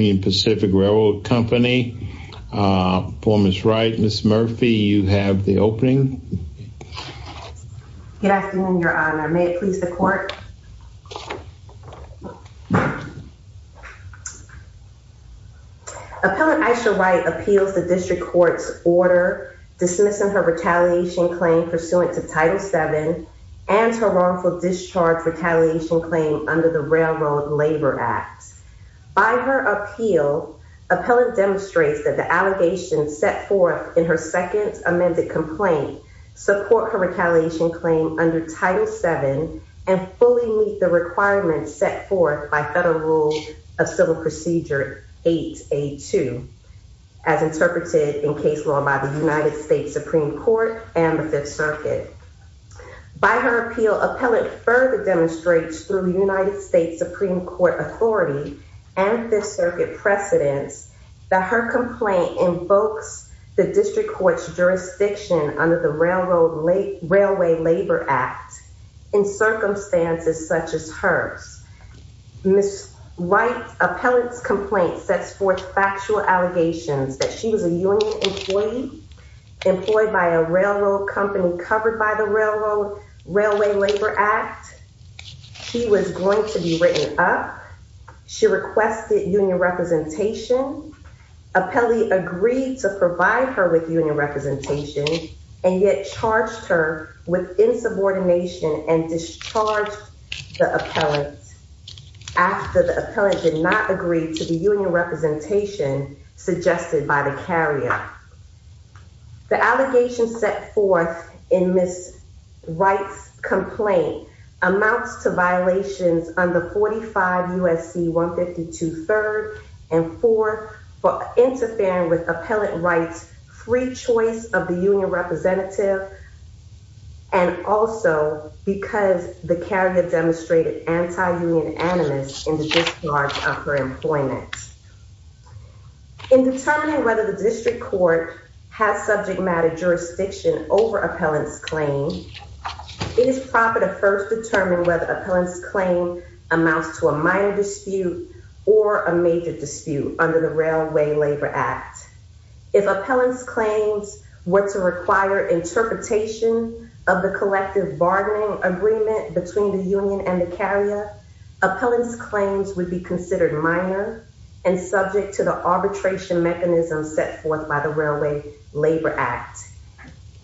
Union Pacific Railroad Company form is right. Ms. Murphy, you have the opening. Good afternoon, Your Honor. May it please the court. Appellant Aisha Wright appeals the district court's order dismissing her retaliation claim pursuant to Title VII and her wrongful discharge retaliation claim under the Railroad Labor Act. By her appeal, Appellant demonstrates that the allegations set forth in her second amended complaint support her retaliation claim under Title VII and fully meet the requirements set forth by Federal Rule of Civil Procedure 8A2, as interpreted in case law by the United States Supreme Court and the Fifth Circuit. By her appeal, Appellant further demonstrates through the United States Supreme Court authority and Fifth Circuit precedence that her complaint invokes the district court's jurisdiction under the Railway Labor Act in circumstances such as hers. Ms. Wright's appellant's complaint sets forth factual allegations that she was a union employee employed by a railroad company covered by the Railway Labor Act. She was going to be written up. She requested union representation. Appellee agreed to provide her with union representation and yet charged her with insubordination and discharged the appellant. After the appellant did not agree to the union representation suggested by the carrier. The allegations set forth in Ms. Wright's complaint amounts to violations under 45 U.S.C. 152 third and fourth for interfering with Appellant Wright's free choice of the union representative and also because the carrier demonstrated anti-union animus in the discharge of her employment. In determining whether the district court has subject matter jurisdiction over Appellant's claim, it is proper to first determine whether Appellant's claim amounts to a minor dispute or a major dispute under the Railway Labor Act. If Appellant's claims were to require interpretation of the collective bargaining agreement between the union and the carrier, Appellant's claims would be considered minor and subject to the arbitration mechanism set forth by the Railway Labor Act.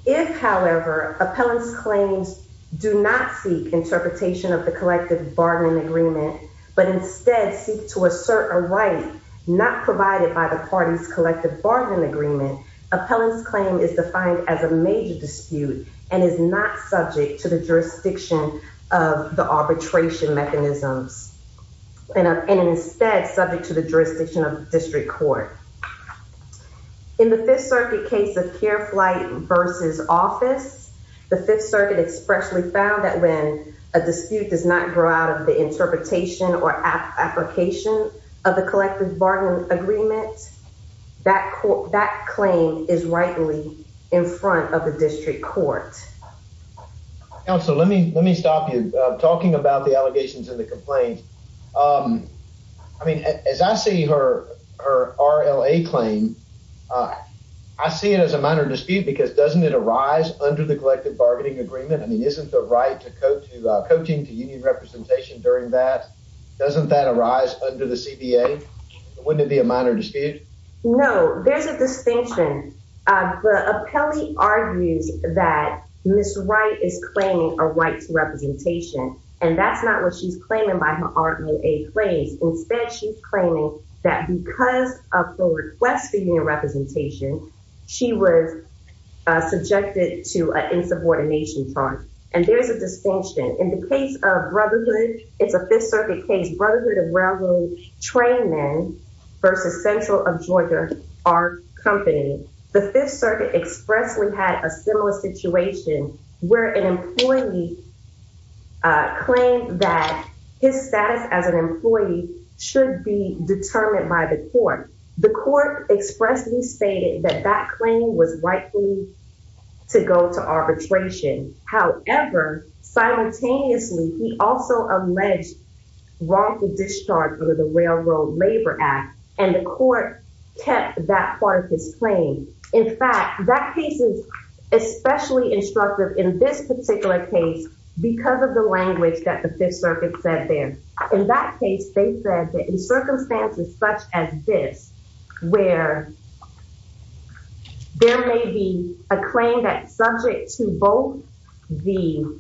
If, however, Appellant's claims do not seek interpretation of the collective bargaining agreement, but instead seek to assert a right not provided by the party's collective bargaining agreement, Appellant's claim is defined as a major dispute and is not subject to the jurisdiction of the arbitration mechanisms and instead subject to the jurisdiction of district court. In the Fifth Circuit case of Care Flight versus Office, the Fifth Circuit expressly found that when a dispute does not grow out of the interpretation or application of the collective bargaining agreement, that claim is rightly in front of the district court. Counsel, let me let me stop you talking about the allegations in the complaint. I mean, as I see her, her RLA claim, I see it as a minor dispute because doesn't it arise under the collective bargaining agreement? I mean, isn't the right to coaching to union representation during that? Doesn't that arise under the CBA? Wouldn't it be a minor dispute? No, there's a distinction. The appellee argues that Ms. Wright is claiming a right to representation, and that's not what she's claiming by her RLA claims. Instead, she's claiming that because of her request for union representation, she was subjected to an insubordination charge. And there's a distinction. In the case of Brotherhood, it's a Fifth Circuit case, Brotherhood of Railroad Trainmen versus Central of Georgia, our company. The Fifth Circuit expressly had a similar situation where an employee claimed that his status as an employee should be determined by the court. The court expressly stated that that claim was rightfully to go to arbitration. However, simultaneously, he also alleged wrongful discharge under the Railroad Labor Act, and the court kept that part of his claim. In fact, that piece is especially instructive in this particular case because of the language that the Fifth Circuit said there. In that case, they said that in circumstances such as this, where there may be a claim that's subject to both the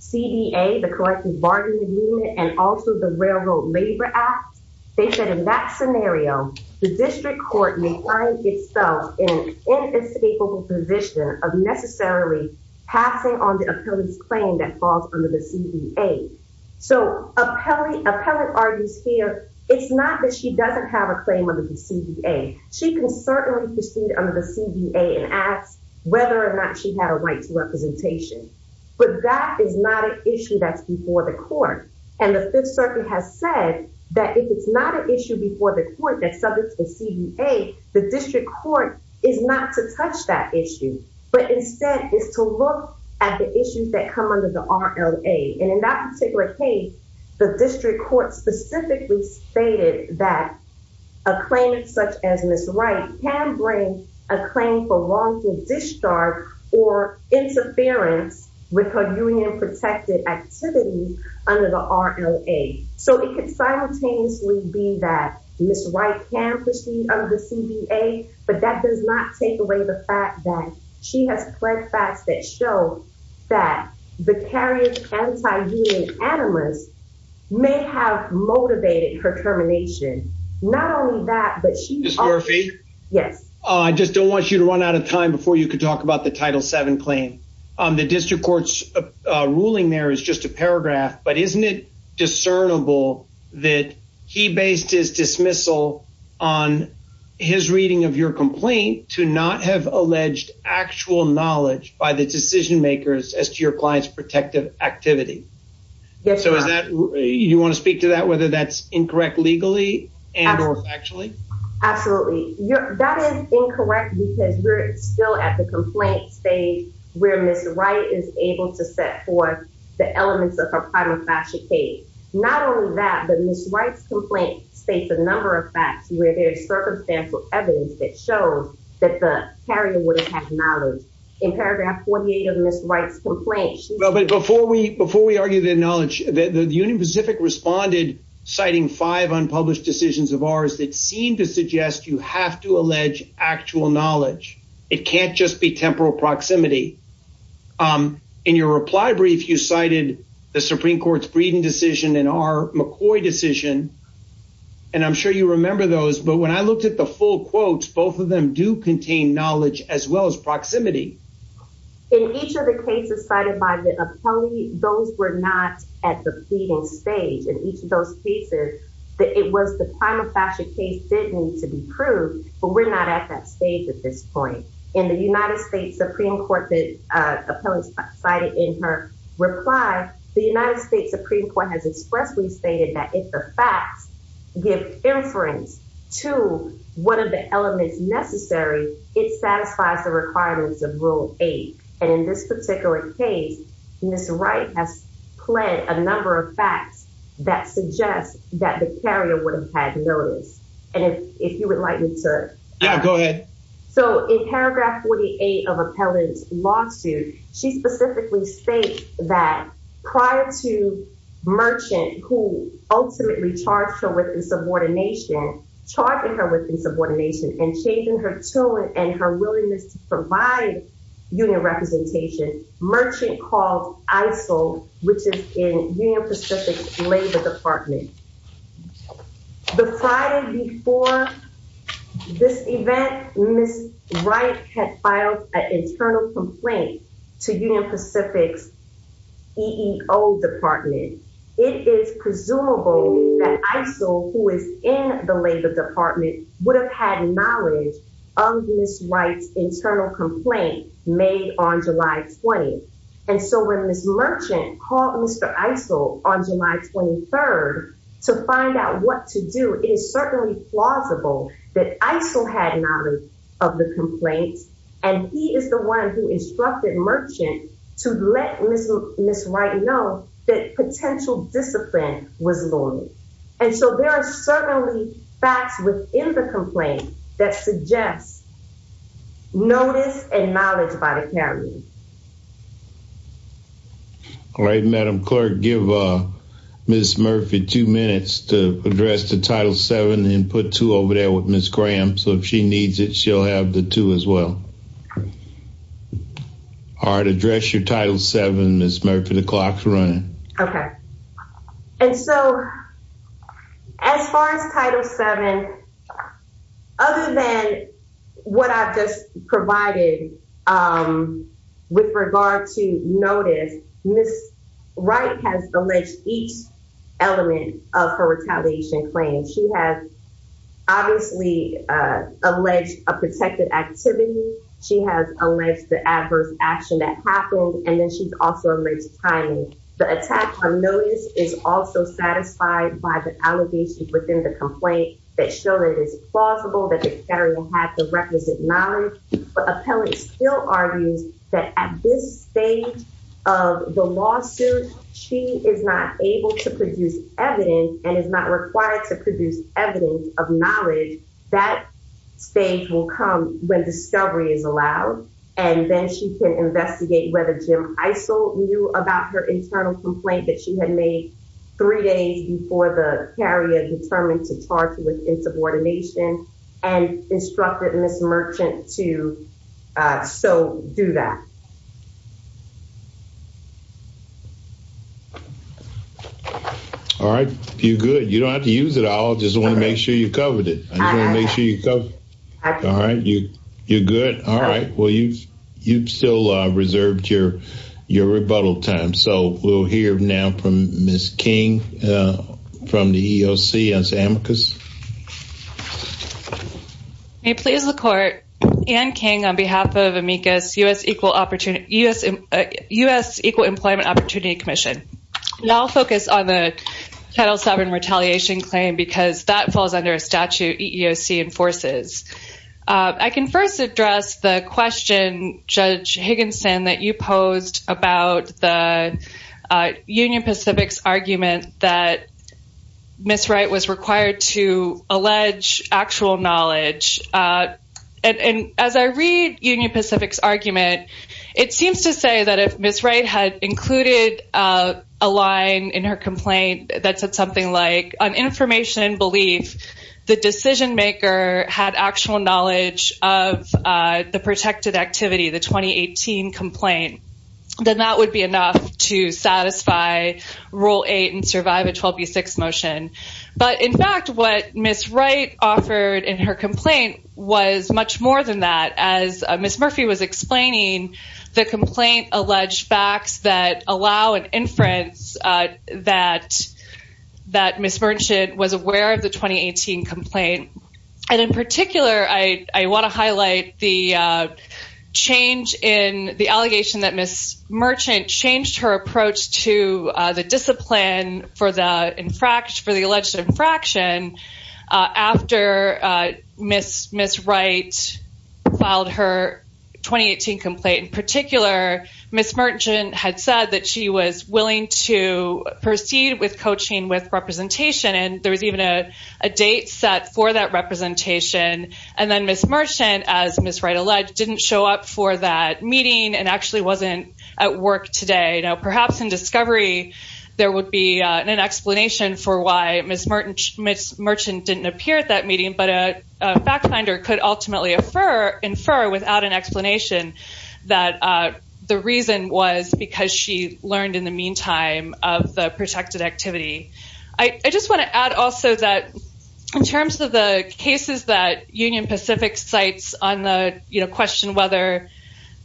CBA, the Collective Bargaining Agreement, and also the Railroad Labor Act, they said in that scenario, the district court may find itself in an inescapable position of necessarily passing on the appellee's claim that falls under the CBA. So appellate argues here, it's not that she doesn't have a claim under the CBA. She can certainly proceed under the CBA and ask whether or not she had a right to representation. But that is not an issue that's before the court. And the Fifth Circuit has said that if it's not an issue before the court that's subject to the CBA, the district court is not to touch that issue, but instead is to look at the issues that come under the RLA. And in that particular case, the district court specifically stated that a claimant such as Ms. Wright can bring a claim for wrongful discharge or interference with her union-protected activities under the RLA. So it could simultaneously be that Ms. Wright can proceed under the CBA, but that does not take away the fact that she has pled facts that show that vicarious anti-union animus may have motivated her termination. Ms. Murphy, I just don't want you to run out of time before you could talk about the Title VII claim. The district court's ruling there is just a paragraph, but isn't it discernible that he based his dismissal on his reading of your complaint to not have alleged actual knowledge by the decision makers as to your client's protective activity? So you want to speak to that, whether that's incorrect legally and or factually? Absolutely. That is incorrect because we're still at the complaint stage where Ms. Wright is able to set forth the elements of her prima facie case. Not only that, but Ms. Wright's complaint states a number of facts where there is circumstantial evidence that shows that the carrier wouldn't have knowledge. In paragraph 48 of Ms. Wright's complaint. Well, but before we before we argue that knowledge, the Union Pacific responded, citing five unpublished decisions of ours that seem to suggest you have to allege actual knowledge. It can't just be temporal proximity. In your reply brief, you cited the Supreme Court's Breeding decision and our McCoy decision. And I'm sure you remember those. But when I looked at the full quotes, both of them do contain knowledge as well as proximity. In each of the cases cited by the appellee, those were not at the pleading stage. And each of those cases, it was the prima facie case did need to be proved. But we're not at that stage at this point. In the United States Supreme Court, the appellee cited in her reply, the United States Supreme Court has expressly stated that if the facts give inference to one of the elements necessary, it satisfies the requirements of rule eight. And in this particular case, Mr. Wright has played a number of facts that suggests that the carrier would have had notice. And if you would like me to go ahead. So in paragraph 48 of appellate lawsuit, she specifically states that prior to merchant who ultimately charged her with insubordination, charging her with insubordination and changing her to it and her willingness to provide union representation. Merchant called ISIL, which is in the Pacific Labor Department. The Friday before this event, Miss Wright had filed an internal complaint to Union Pacific's old department. It is presumable that ISIL, who is in the Labor Department, would have had knowledge of this rights internal complaint made on July 20. And so when Miss Merchant called Mr. ISIL on July 23rd to find out what to do, it is certainly plausible that ISIL had knowledge of the complaints. And he is the one who instructed merchant to let Miss Wright know that potential discipline was looming. And so there are certainly facts within the complaint that suggests. Notice and knowledge about it. All right, Madam Clerk, give Miss Murphy two minutes to address the title seven and put two over there with Miss Graham. So if she needs it, she'll have the two as well. Address your title seven. Miss Murphy, the clock's running. OK, and so as far as title seven, other than what I've just provided with regard to notice, Miss Wright has alleged each element of her retaliation claim. She has obviously alleged a protected activity. She has alleged the adverse action that happened. And then she's also alleged timing. The attack on notice is also satisfied by the allegations within the complaint that show that it is plausible that the federal had the requisite knowledge. Still argues that at this stage of the lawsuit, she is not able to produce evidence and is not required to produce evidence of knowledge. That stage will come when discovery is allowed. And then she can investigate whether Jim Isolde knew about her internal complaint that she had made three days before the area determined to charge with insubordination and instructed Miss Merchant to. So do that. All right, you're good. You don't have to use it all. Just want to make sure you covered it. All right. You you're good. All right. Well, you've you've still reserved your your rebuttal time. So we'll hear now from Miss King from the EOC as Amicus. May please the court and King on behalf of Amicus US equal opportunity. Yes. U.S. Equal Employment Opportunity Commission. I'll focus on the title seven retaliation claim because that falls under a statute you see enforces. I can first address the question, Judge Higginson, that you posed about the Union Pacific's argument that Miss Wright was required to allege actual knowledge. And as I read Union Pacific's argument, it seems to say that if Miss Wright had included a line in her complaint that said something like on information and belief, the decision maker had actual knowledge of the protected activity, the twenty eighteen complaint. Then that would be enough to satisfy rule eight and survive a twelve B six motion. But in fact, what Miss Wright offered in her complaint was much more than that. As Miss Murphy was explaining, the complaint alleged facts that allow an inference that that Miss Merchant was aware of the twenty eighteen complaint. And in particular, I want to highlight the change in the allegation that Miss Merchant changed her approach to the discipline for the infraction for the alleged infraction. After Miss Miss Wright filed her twenty eighteen complaint in particular, Miss Merchant had said that she was willing to proceed with coaching with representation. And there was even a date set for that representation. And then Miss Merchant, as Miss Wright alleged, didn't show up for that meeting and actually wasn't at work today. Now, perhaps in discovery, there would be an explanation for why Miss Merchant didn't appear at that meeting. But a fact finder could ultimately infer without an explanation that the reason was because she learned in the meantime of the protected activity. I just want to add also that in terms of the cases that Union Pacific cites on the question whether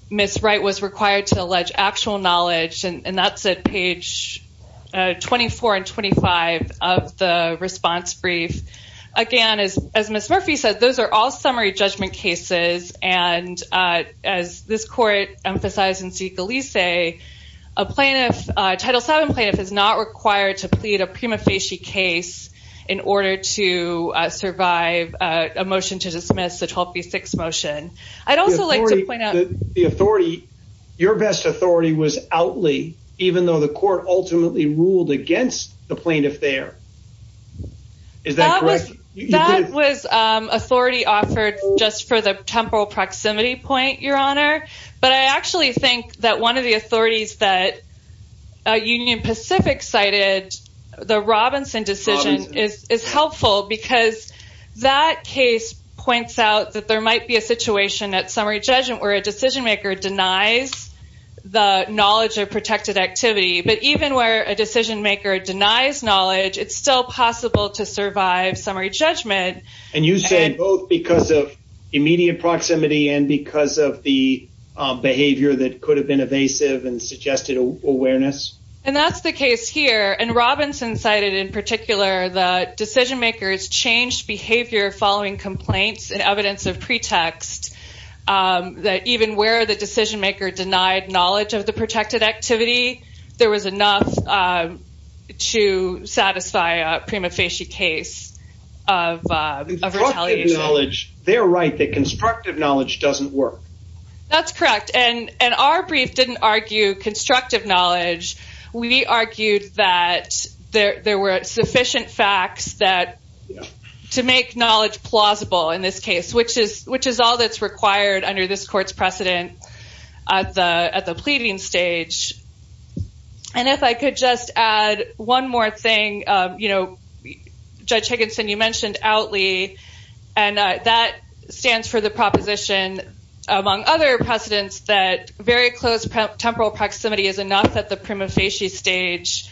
Miss Wright was required to allege actual knowledge. And that's at page twenty four and twenty five of the response brief. Again, as Miss Murphy said, those are all summary judgment cases. And as this court emphasized in Segalese, a plaintiff title seven plaintiff is not required to plead a prima facie case in order to survive a motion to dismiss the 12B6 motion. I'd also like to point out the authority. Your best authority was outly, even though the court ultimately ruled against the plaintiff there. Is that correct? That was authority offered just for the temporal proximity point, Your Honor. But I actually think that one of the authorities that Union Pacific cited, the Robinson decision is helpful because that case points out that there might be a situation at summary judgment where a decision maker denies the knowledge of protected activity. But even where a decision maker denies knowledge, it's still possible to survive summary judgment. And you said both because of immediate proximity and because of the behavior that could have been evasive and suggested awareness. And that's the case here. And Robinson cited in particular the decision makers changed behavior following complaints and evidence of pretext that even where the decision maker denied knowledge of the protected activity. There was enough to satisfy a prima facie case of knowledge. They're right that constructive knowledge doesn't work. That's correct. And our brief didn't argue constructive knowledge. We argued that there were sufficient facts that to make knowledge plausible in this case, which is which is all that's required under this court's precedent at the at the pleading stage. And if I could just add one more thing, you know, Judge Higginson, you mentioned outly. And that stands for the proposition, among other precedents, that very close temporal proximity is enough at the prima facie stage.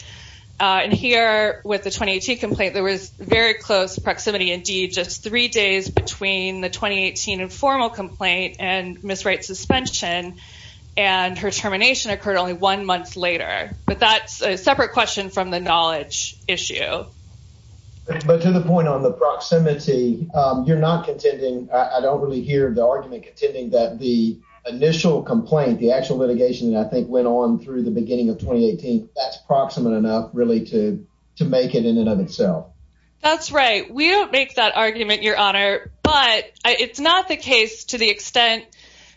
And here with the 2018 complaint, there was very close proximity. Indeed, just three days between the 2018 informal complaint and Miss Wright suspension and her termination occurred only one month later. But that's a separate question from the knowledge issue. But to the point on the proximity, you're not contending. I don't really hear the argument contending that the initial complaint, the actual litigation, I think, went on through the beginning of 2018. That's proximate enough, really, to to make it in and of itself. That's right. We don't make that argument, Your Honor. But it's not the case to the extent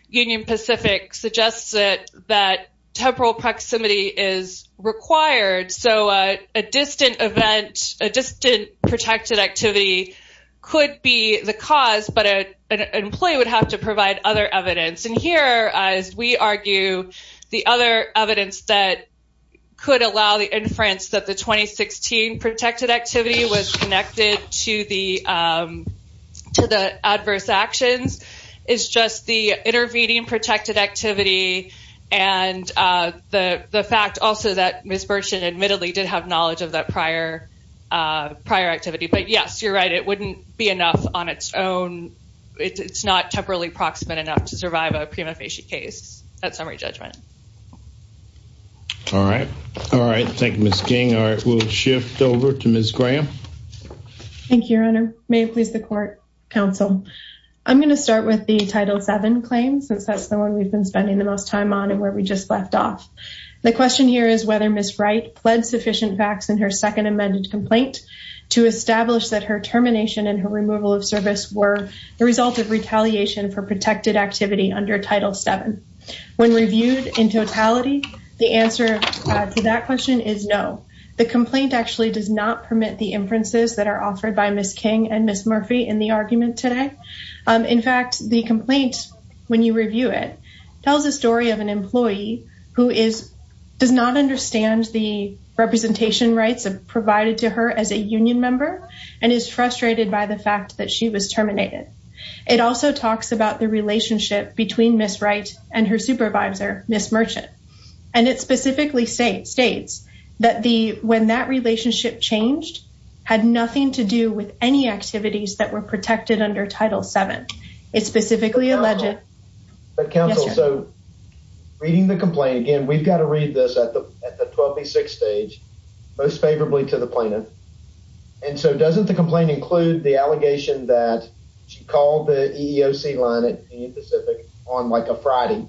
Union Pacific suggests that that temporal proximity is required. So a distant event, a distant protected activity could be the cause. But an employee would have to provide other evidence. And here, as we argue, the other evidence that could allow the inference that the 2016 protected activity was connected to the to the adverse actions is just the intervening protected activity. And the fact also that Ms. Burchett admittedly did have knowledge of that prior prior activity. But, yes, you're right. It wouldn't be enough on its own. It's not temporally proximate enough to survive a prima facie case. That summary judgment. All right. All right. Thank you, Ms. King. We'll shift over to Ms. Graham. Thank you, Your Honor. May it please the court. Counsel, I'm going to start with the Title 7 claims since that's the one we've been spending the most time on and where we just left off. The question here is whether Ms. Wright pled sufficient facts in her second amended complaint to establish that her termination and her removal of service were the result of retaliation for protected activity under Title 7. When reviewed in totality, the answer to that question is no. The complaint actually does not permit the inferences that are offered by Ms. King and Ms. Murphy in the argument today. In fact, the complaint, when you review it, tells a story of an employee who is does not understand the representation rights provided to her as a union member and is frustrated by the fact that she was terminated. It also talks about the relationship between Ms. Wright and her supervisor, Ms. Burchett. And it specifically states that when that relationship changed, had nothing to do with any activities that were protected under Title 7. It specifically alleged... Counsel, so reading the complaint again, we've got to read this at the 12B6 stage, most favorably to the plaintiff. And so doesn't the complaint include the allegation that she called the EEOC line at Union Pacific on like a Friday?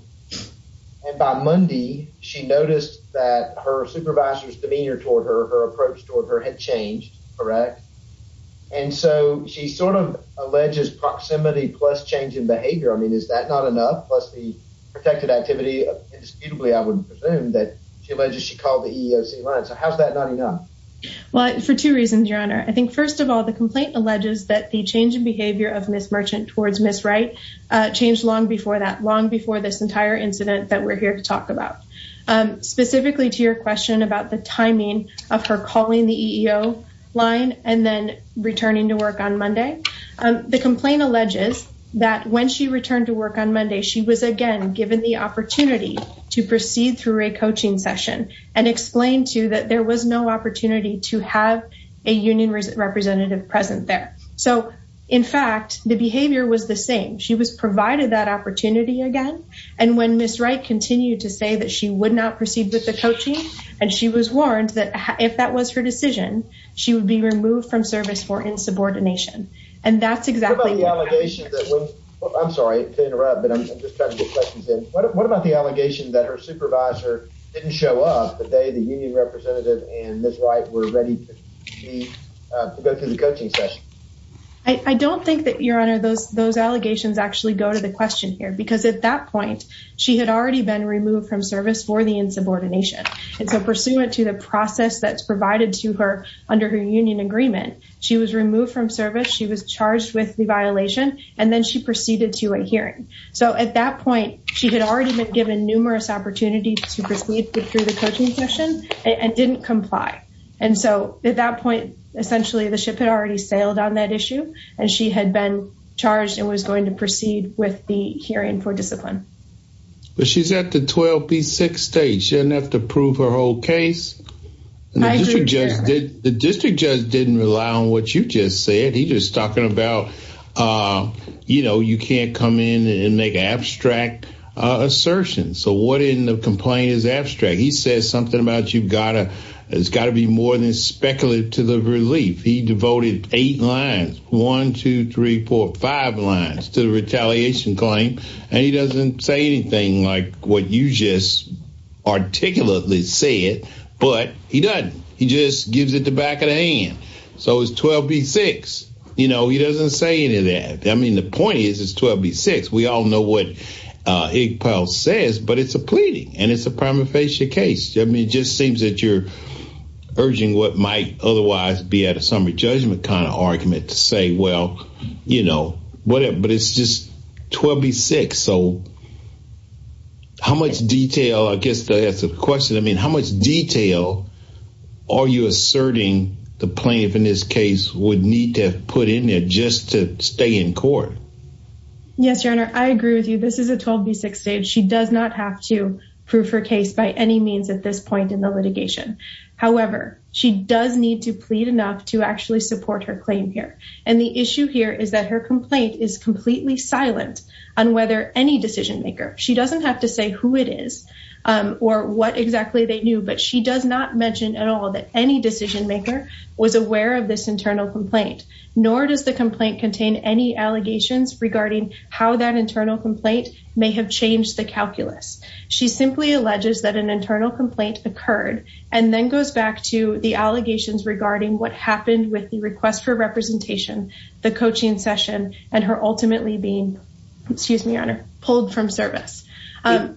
And by Monday, she noticed that her supervisor's demeanor toward her, her approach toward her had changed, correct? And so she sort of alleges proximity plus change in behavior. I mean, is that not enough? Plus the protected activity, indisputably, I would presume that she alleged she called the EEOC line. So how is that not enough? Well, for two reasons, Your Honor. I think first of all, the complaint alleges that the change in behavior of Ms. Merchant towards Ms. Wright changed long before that, long before this entire incident that we're here to talk about. Specifically to your question about the timing of her calling the EEO line and then returning to work on Monday. The complaint alleges that when she returned to work on Monday, she was again given the opportunity to proceed through a coaching session and explained to that there was no opportunity to have a union representative present there. So, in fact, the behavior was the same. She was provided that opportunity again. And when Ms. Wright continued to say that she would not proceed with the coaching and she was warned that if that was her decision, she would be removed from service for insubordination. And that's exactly what happened. I'm sorry to interrupt, but I'm just trying to get questions in. What about the allegation that her supervisor didn't show up the day the union representative and Ms. Wright were ready to go through the coaching session? I don't think that, Your Honor, those allegations actually go to the question here. Because at that point, she had already been removed from service for the insubordination. And so pursuant to the process that's provided to her under her union agreement, she was removed from service. She was charged with the violation. And then she proceeded to a hearing. So at that point, she had already been given numerous opportunities to proceed through the coaching session and didn't comply. And so at that point, essentially, the ship had already sailed on that issue. And she had been charged and was going to proceed with the hearing for discipline. But she's at the 12B6 stage. She doesn't have to prove her whole case. The district judge didn't rely on what you just said. He's just talking about, you know, you can't come in and make an abstract assertion. So what in the complaint is abstract? He says something about you've got to be more than speculative to the relief. He devoted eight lines, one, two, three, four, five lines to the retaliation claim. And he doesn't say anything like what you just articulately said. But he doesn't. He just gives it the back of the hand. So it's 12B6. You know, he doesn't say any of that. I mean, the point is it's 12B6. We all know what Iqbal says. But it's a pleading, and it's a prima facie case. I mean, it just seems that you're urging what might otherwise be at a summary judgment kind of argument to say, well, you know, whatever. But it's just 12B6. So how much detail, I guess to answer the question, I mean, how much detail are you asserting the plaintiff in this case would need to have put in there just to stay in court? Yes, Your Honor, I agree with you. This is a 12B6 stage. She does not have to prove her case by any means at this point in the litigation. However, she does need to plead enough to actually support her claim here. And the issue here is that her complaint is completely silent on whether any decision-maker, she doesn't have to say who it is or what exactly they knew, but she does not mention at all that any decision-maker was aware of this internal complaint. Nor does the complaint contain any allegations regarding how that internal complaint may have changed the calculus. She simply alleges that an internal complaint occurred and then goes back to the allegations regarding what happened with the request for representation, the coaching session, and her ultimately being, excuse me, Your Honor, pulled from service. Do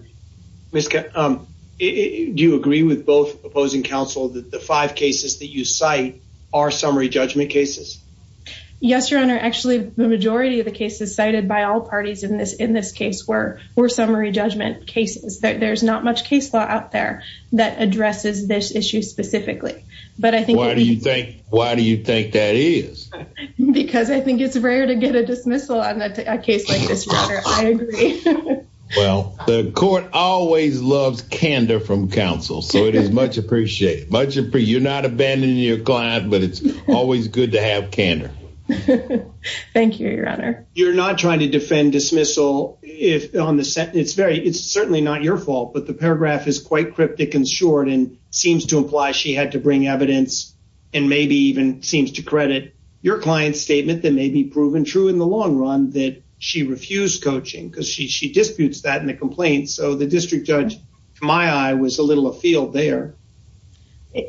you agree with both opposing counsel that the five cases that you cite are summary judgment cases? Yes, Your Honor. Actually, the majority of the cases cited by all parties in this case were summary judgment cases. There's not much case law out there that addresses this issue specifically. Why do you think that is? Because I think it's rare to get a dismissal on a case like this, Your Honor. I agree. Well, the court always loves candor from counsel, so it is much appreciated. You're not abandoning your client, but it's always good to have candor. Thank you, Your Honor. You're not trying to defend dismissal. It's certainly not your fault, but the paragraph is quite cryptic and short and seems to imply she had to bring evidence and maybe even seems to credit your client's statement that may be proven true in the long run that she refused coaching because she disputes that in the complaint. So the district judge, to my eye, was a little afield there.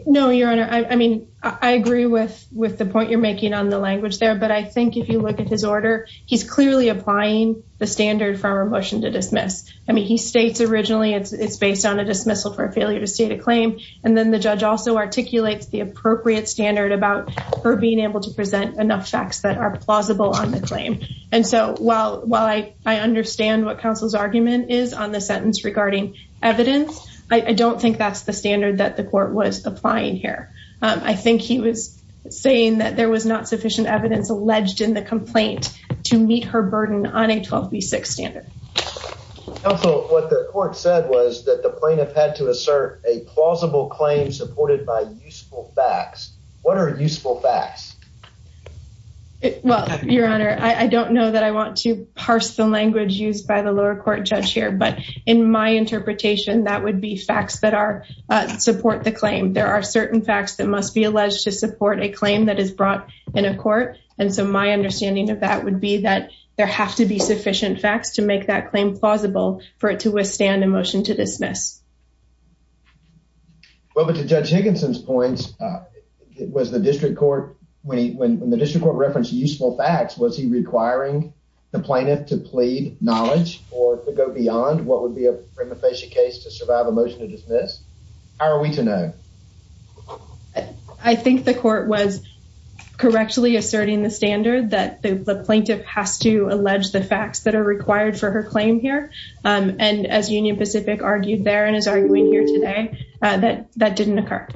No, Your Honor. I mean, I agree with the point you're making on the language there, but I think if you look at his order, he's clearly applying the standard for a motion to dismiss. I mean, he states originally it's based on a dismissal for a failure to state a claim, and then the judge also articulates the appropriate standard about her being able to present enough facts that are plausible on the claim. And so while I understand what counsel's argument is on the sentence regarding evidence, I don't think that's the standard that the court was applying here. I think he was saying that there was not sufficient evidence alleged in the complaint to meet her burden on a 12B6 standard. Counsel, what the court said was that the plaintiff had to assert a plausible claim supported by useful facts. What are useful facts? Well, Your Honor, I don't know that I want to parse the language used by the lower court judge here, but in my interpretation, that would be facts that support the claim. There are certain facts that must be alleged to support a claim that is brought in a court. And so my understanding of that would be that there have to be sufficient facts to make that claim plausible for it to withstand a motion to dismiss. Well, but to Judge Higginson's points, when the district court referenced useful facts, was he requiring the plaintiff to plead knowledge or to go beyond what would be a prima facie case to survive a motion to dismiss? How are we to know? I think the court was correctly asserting the standard that the plaintiff has to allege the facts that are required for her claim here. And as Union Pacific argued there and is arguing here today, that that didn't occur.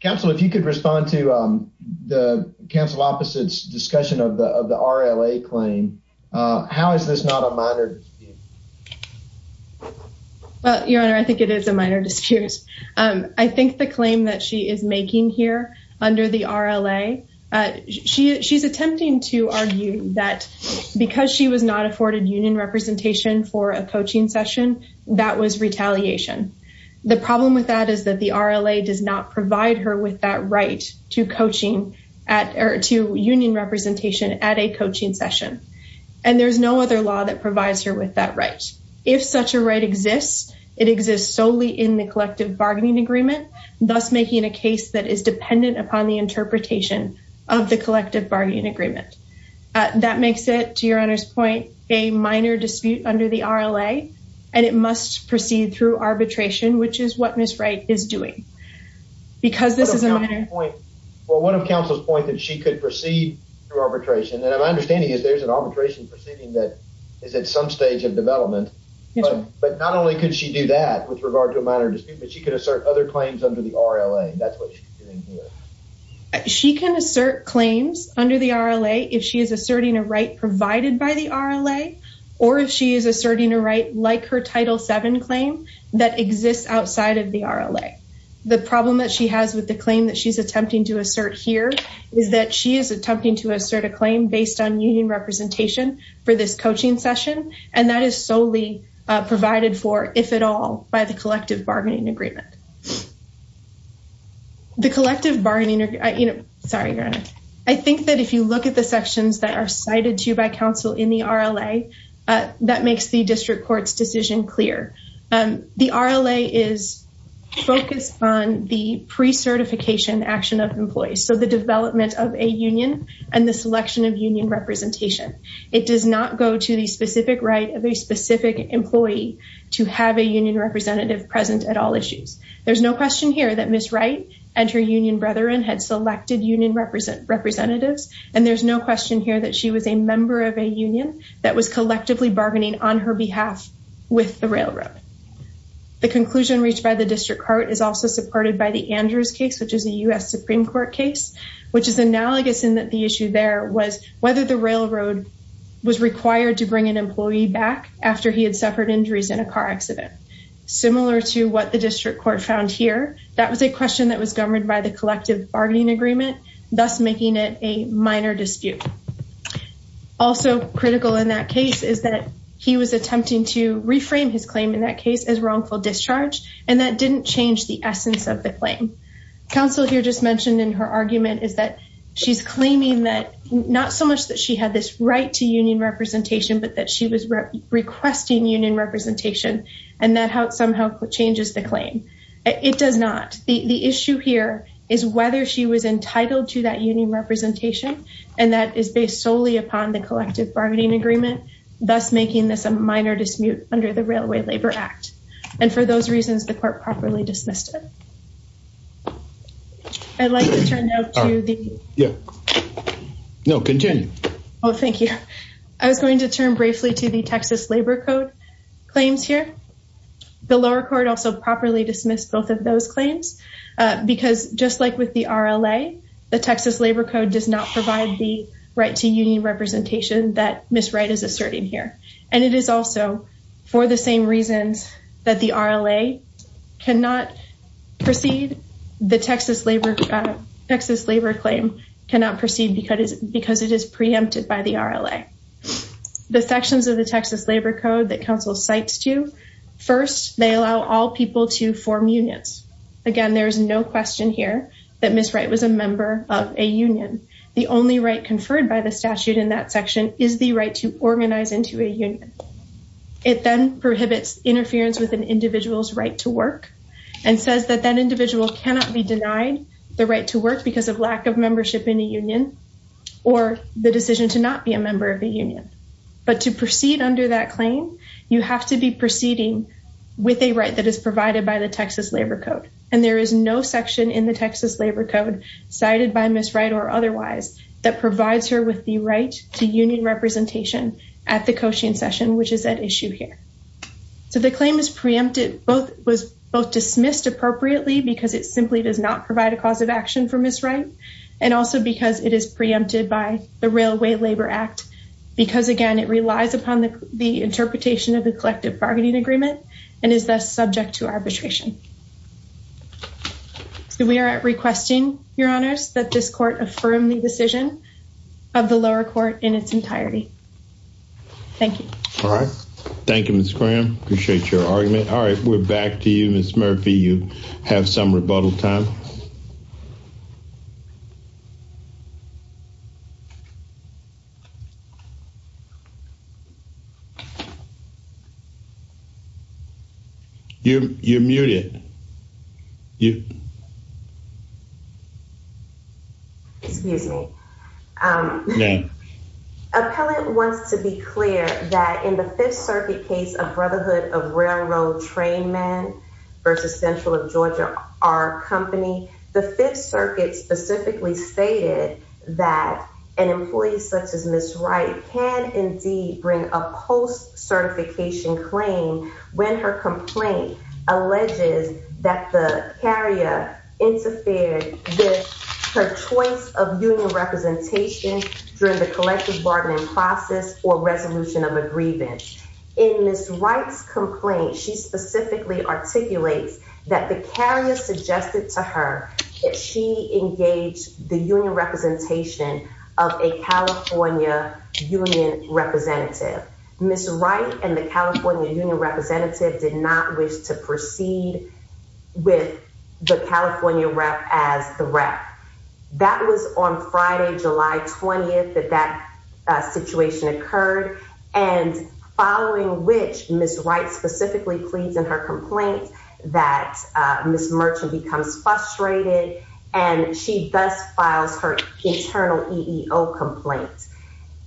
Counsel, if you could respond to the counsel opposite's discussion of the RLA claim, how is this not a minor dispute? Well, Your Honor, I think it is a minor dispute. I think the claim that she is making here under the RLA, she's attempting to argue that because she was not afforded union representation for a coaching session, that was retaliation. The problem with that is that the RLA does not provide her with that right to coaching at or to union representation at a coaching session. And there's no other law that provides her with that right. If such a right exists, it exists solely in the collective bargaining agreement, thus making a case that is dependent upon the interpretation of the collective bargaining agreement. That makes it, to Your Honor's point, a minor dispute under the RLA, and it must proceed through arbitration, which is what Ms. Wright is doing. Because this is a minor... Well, what if counsel's point that she could proceed through arbitration? And my understanding is there's an arbitration proceeding that is at some stage of development. But not only could she do that with regard to a minor dispute, but she could assert other claims under the RLA. That's what she's doing here. She can assert claims under the RLA if she is asserting a right provided by the RLA or if she is asserting a right like her Title VII claim that exists outside of the RLA. The problem that she has with the claim that she's attempting to assert here is that she is attempting to assert a claim based on union representation for this coaching session. And that is solely provided for, if at all, by the collective bargaining agreement. The collective bargaining... Sorry, Your Honor. I think that if you look at the sections that are cited to you by counsel in the RLA, that makes the district court's decision clear. The RLA is focused on the pre-certification action of employees, so the development of a union and the selection of union representation. It does not go to the specific right of a specific employee to have a union representative present at all issues. There's no question here that Ms. Wright and her union brethren had selected union representatives. And there's no question here that she was a member of a union that was collectively bargaining on her behalf with the railroad. The conclusion reached by the district court is also supported by the Andrews case, which is a U.S. Supreme Court case, which is analogous in that the issue there was whether the railroad was required to bring an employee back after he had suffered injuries in a car accident. Similar to what the district court found here, that was a question that was governed by the collective bargaining agreement, thus making it a minor dispute. Also critical in that case is that he was attempting to reframe his claim in that case as wrongful discharge, and that didn't change the essence of the claim. Counsel here just mentioned in her argument is that she's claiming that not so much that she had this right to union representation, but that she was requesting union representation, and that somehow changes the claim. It does not. The issue here is whether she was entitled to that union representation, and that is based solely upon the collective bargaining agreement, thus making this a minor dispute under the Railway Labor Act. And for those reasons, the court properly dismissed it. I'd like to turn now to the... Yeah. No, continue. Oh, thank you. I was going to turn briefly to the Texas Labor Code claims here. The lower court also properly dismissed both of those claims, because just like with the RLA, the Texas Labor Code does not provide the right to union representation that Ms. Wright is asserting here. And it is also, for the same reasons that the RLA cannot proceed, the Texas Labor Claim cannot proceed because it is preempted by the RLA. The sections of the Texas Labor Code that counsel cites to, first, they allow all people to form unions. Again, there is no question here that Ms. Wright was a member of a union. The only right conferred by the statute in that section is the right to organize into a union. It then prohibits interference with an individual's right to work, and says that that individual cannot be denied the right to work because of lack of membership in a union, or the decision to not be a member of a union. But to proceed under that claim, you have to be proceeding with a right that is provided by the Texas Labor Code. And there is no section in the Texas Labor Code cited by Ms. Wright or otherwise that provides her with the right to union representation at the coaching session, which is at issue here. So the claim is preempted, was both dismissed appropriately because it simply does not provide a cause of action for Ms. Wright, and also because it is preempted by the Railway Labor Act. Because, again, it relies upon the interpretation of the collective bargaining agreement, and is thus subject to arbitration. So we are requesting, Your Honors, that this court affirm the decision of the lower court in its entirety. Thank you. All right. Thank you, Ms. Graham. Appreciate your argument. All right. We're back to you, Ms. Murphy. You have some rebuttal time. You're muted. Excuse me. Ma'am. Appellant wants to be clear that in the Fifth Circuit case of Brotherhood of Railroad Trainmen versus Central of Georgia, our company, the Fifth Circuit specifically stated that an employee such as Ms. Wright can indeed bring a post-certification claim when her complaint alleges that the carrier interfered with her choice of union representation during the collective bargaining process or resolution of a grievance. In Ms. Wright's complaint, she specifically articulates that the carrier suggested to her that she engage the union representation of a California union representative. Ms. Wright and the California union representative did not wish to proceed with the California rep as the rep. That was on Friday, July 20th, that that situation occurred. And following which, Ms. Wright specifically pleads in her complaint that Ms. Merchant becomes frustrated, and she thus files her internal EEO complaint.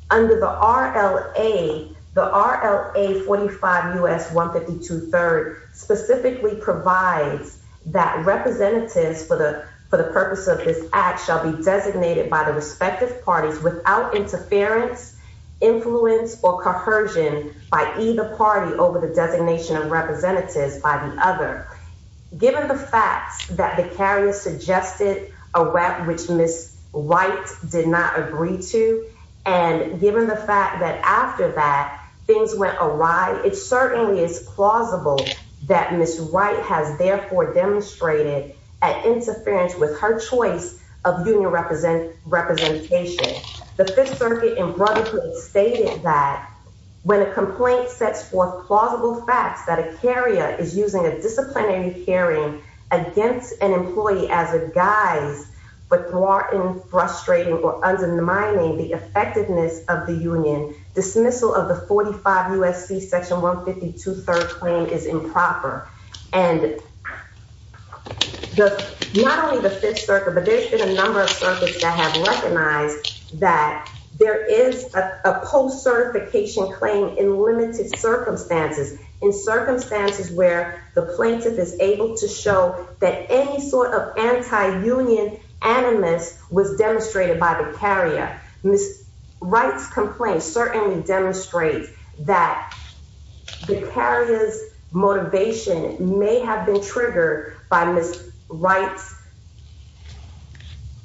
Under the RLA, the RLA 45 U.S. 152 third specifically provides that representatives for the purpose of this act shall be designated by the respective parties without interference, influence, or coercion by either party over the designation of representatives by the other. Given the fact that the carrier suggested a rep which Ms. Wright did not agree to, and given the fact that after that, things went awry, it certainly is plausible that Ms. Wright has therefore demonstrated an interference with her choice of union representation. The Fifth Circuit in brotherhood stated that when a complaint sets forth plausible facts that a carrier is using a disciplinary hearing against an employee as a guise, but thwarting, frustrating, or undermining the effectiveness of the union, dismissal of the 45 U.S.C. section 152 third claim is improper. And not only the Fifth Circuit, but there's been a number of circuits that have recognized that there is a post-certification claim in limited circumstances, in circumstances where the plaintiff is able to show that any sort of anti-union animus was demonstrated by the carrier. Ms. Wright's complaint certainly demonstrates that the carrier's motivation may have been triggered by Ms. Wright's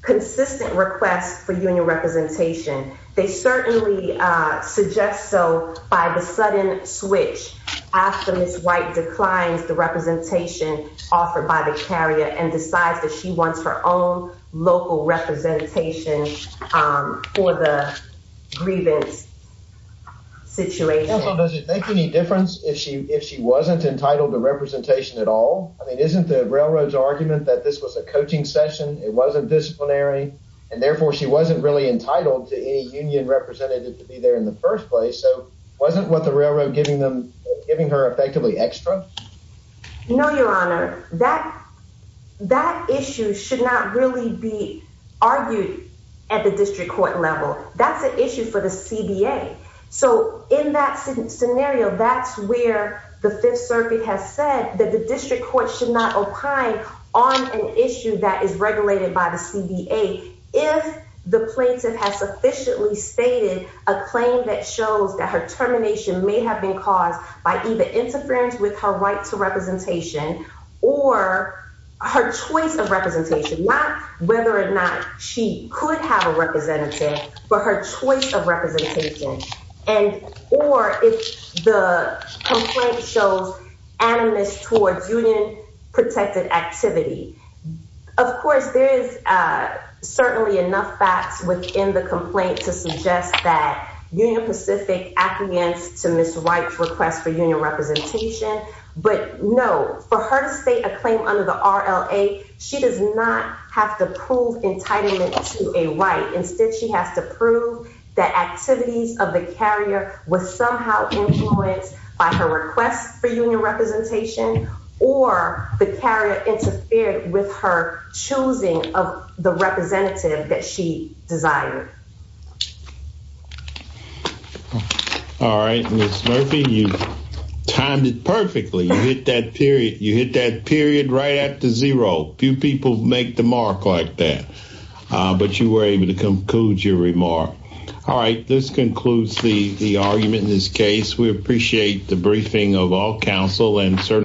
consistent request for union representation. They certainly suggest so by the sudden switch after Ms. Wright declines the representation offered by the carrier and decides that she wants her own local representation for the grievance situation. Does it make any difference if she if she wasn't entitled to representation at all? I mean, isn't the railroad's argument that this was a coaching session? It wasn't disciplinary, and therefore she wasn't really entitled to any union representative to be there in the first place. So wasn't what the railroad giving them giving her effectively extra? No, Your Honor. That that issue should not really be argued at the district court level. That's an issue for the CBA. So in that scenario, that's where the Fifth Circuit has said that the district court should not opine on an issue that is regulated by the CBA if the plaintiff has sufficiently stated a claim that shows that her termination may have been caused by either interference with her right to representation or her choice of representation, not whether or not she could have a representative for her choice of representation and or if the complaint shows animus towards union protected activity. Of course, there is certainly enough facts within the complaint to suggest that Union Pacific appears to Miss White's request for union representation. But no, for her to state a claim under the R. L. A. She does not have to prove entitlement to a right. Instead, she has to prove that activities of the carrier was somehow influenced by her request for union representation or the carrier interfered with her choosing of the representative that she desired. All right, Miss Murphy, you timed it perfectly. You hit that period. You hit that period right at the zero. Few people make the mark like that. But you were able to conclude your remark. All right. This concludes the argument in this case. We appreciate the briefing of all counsel and certainly.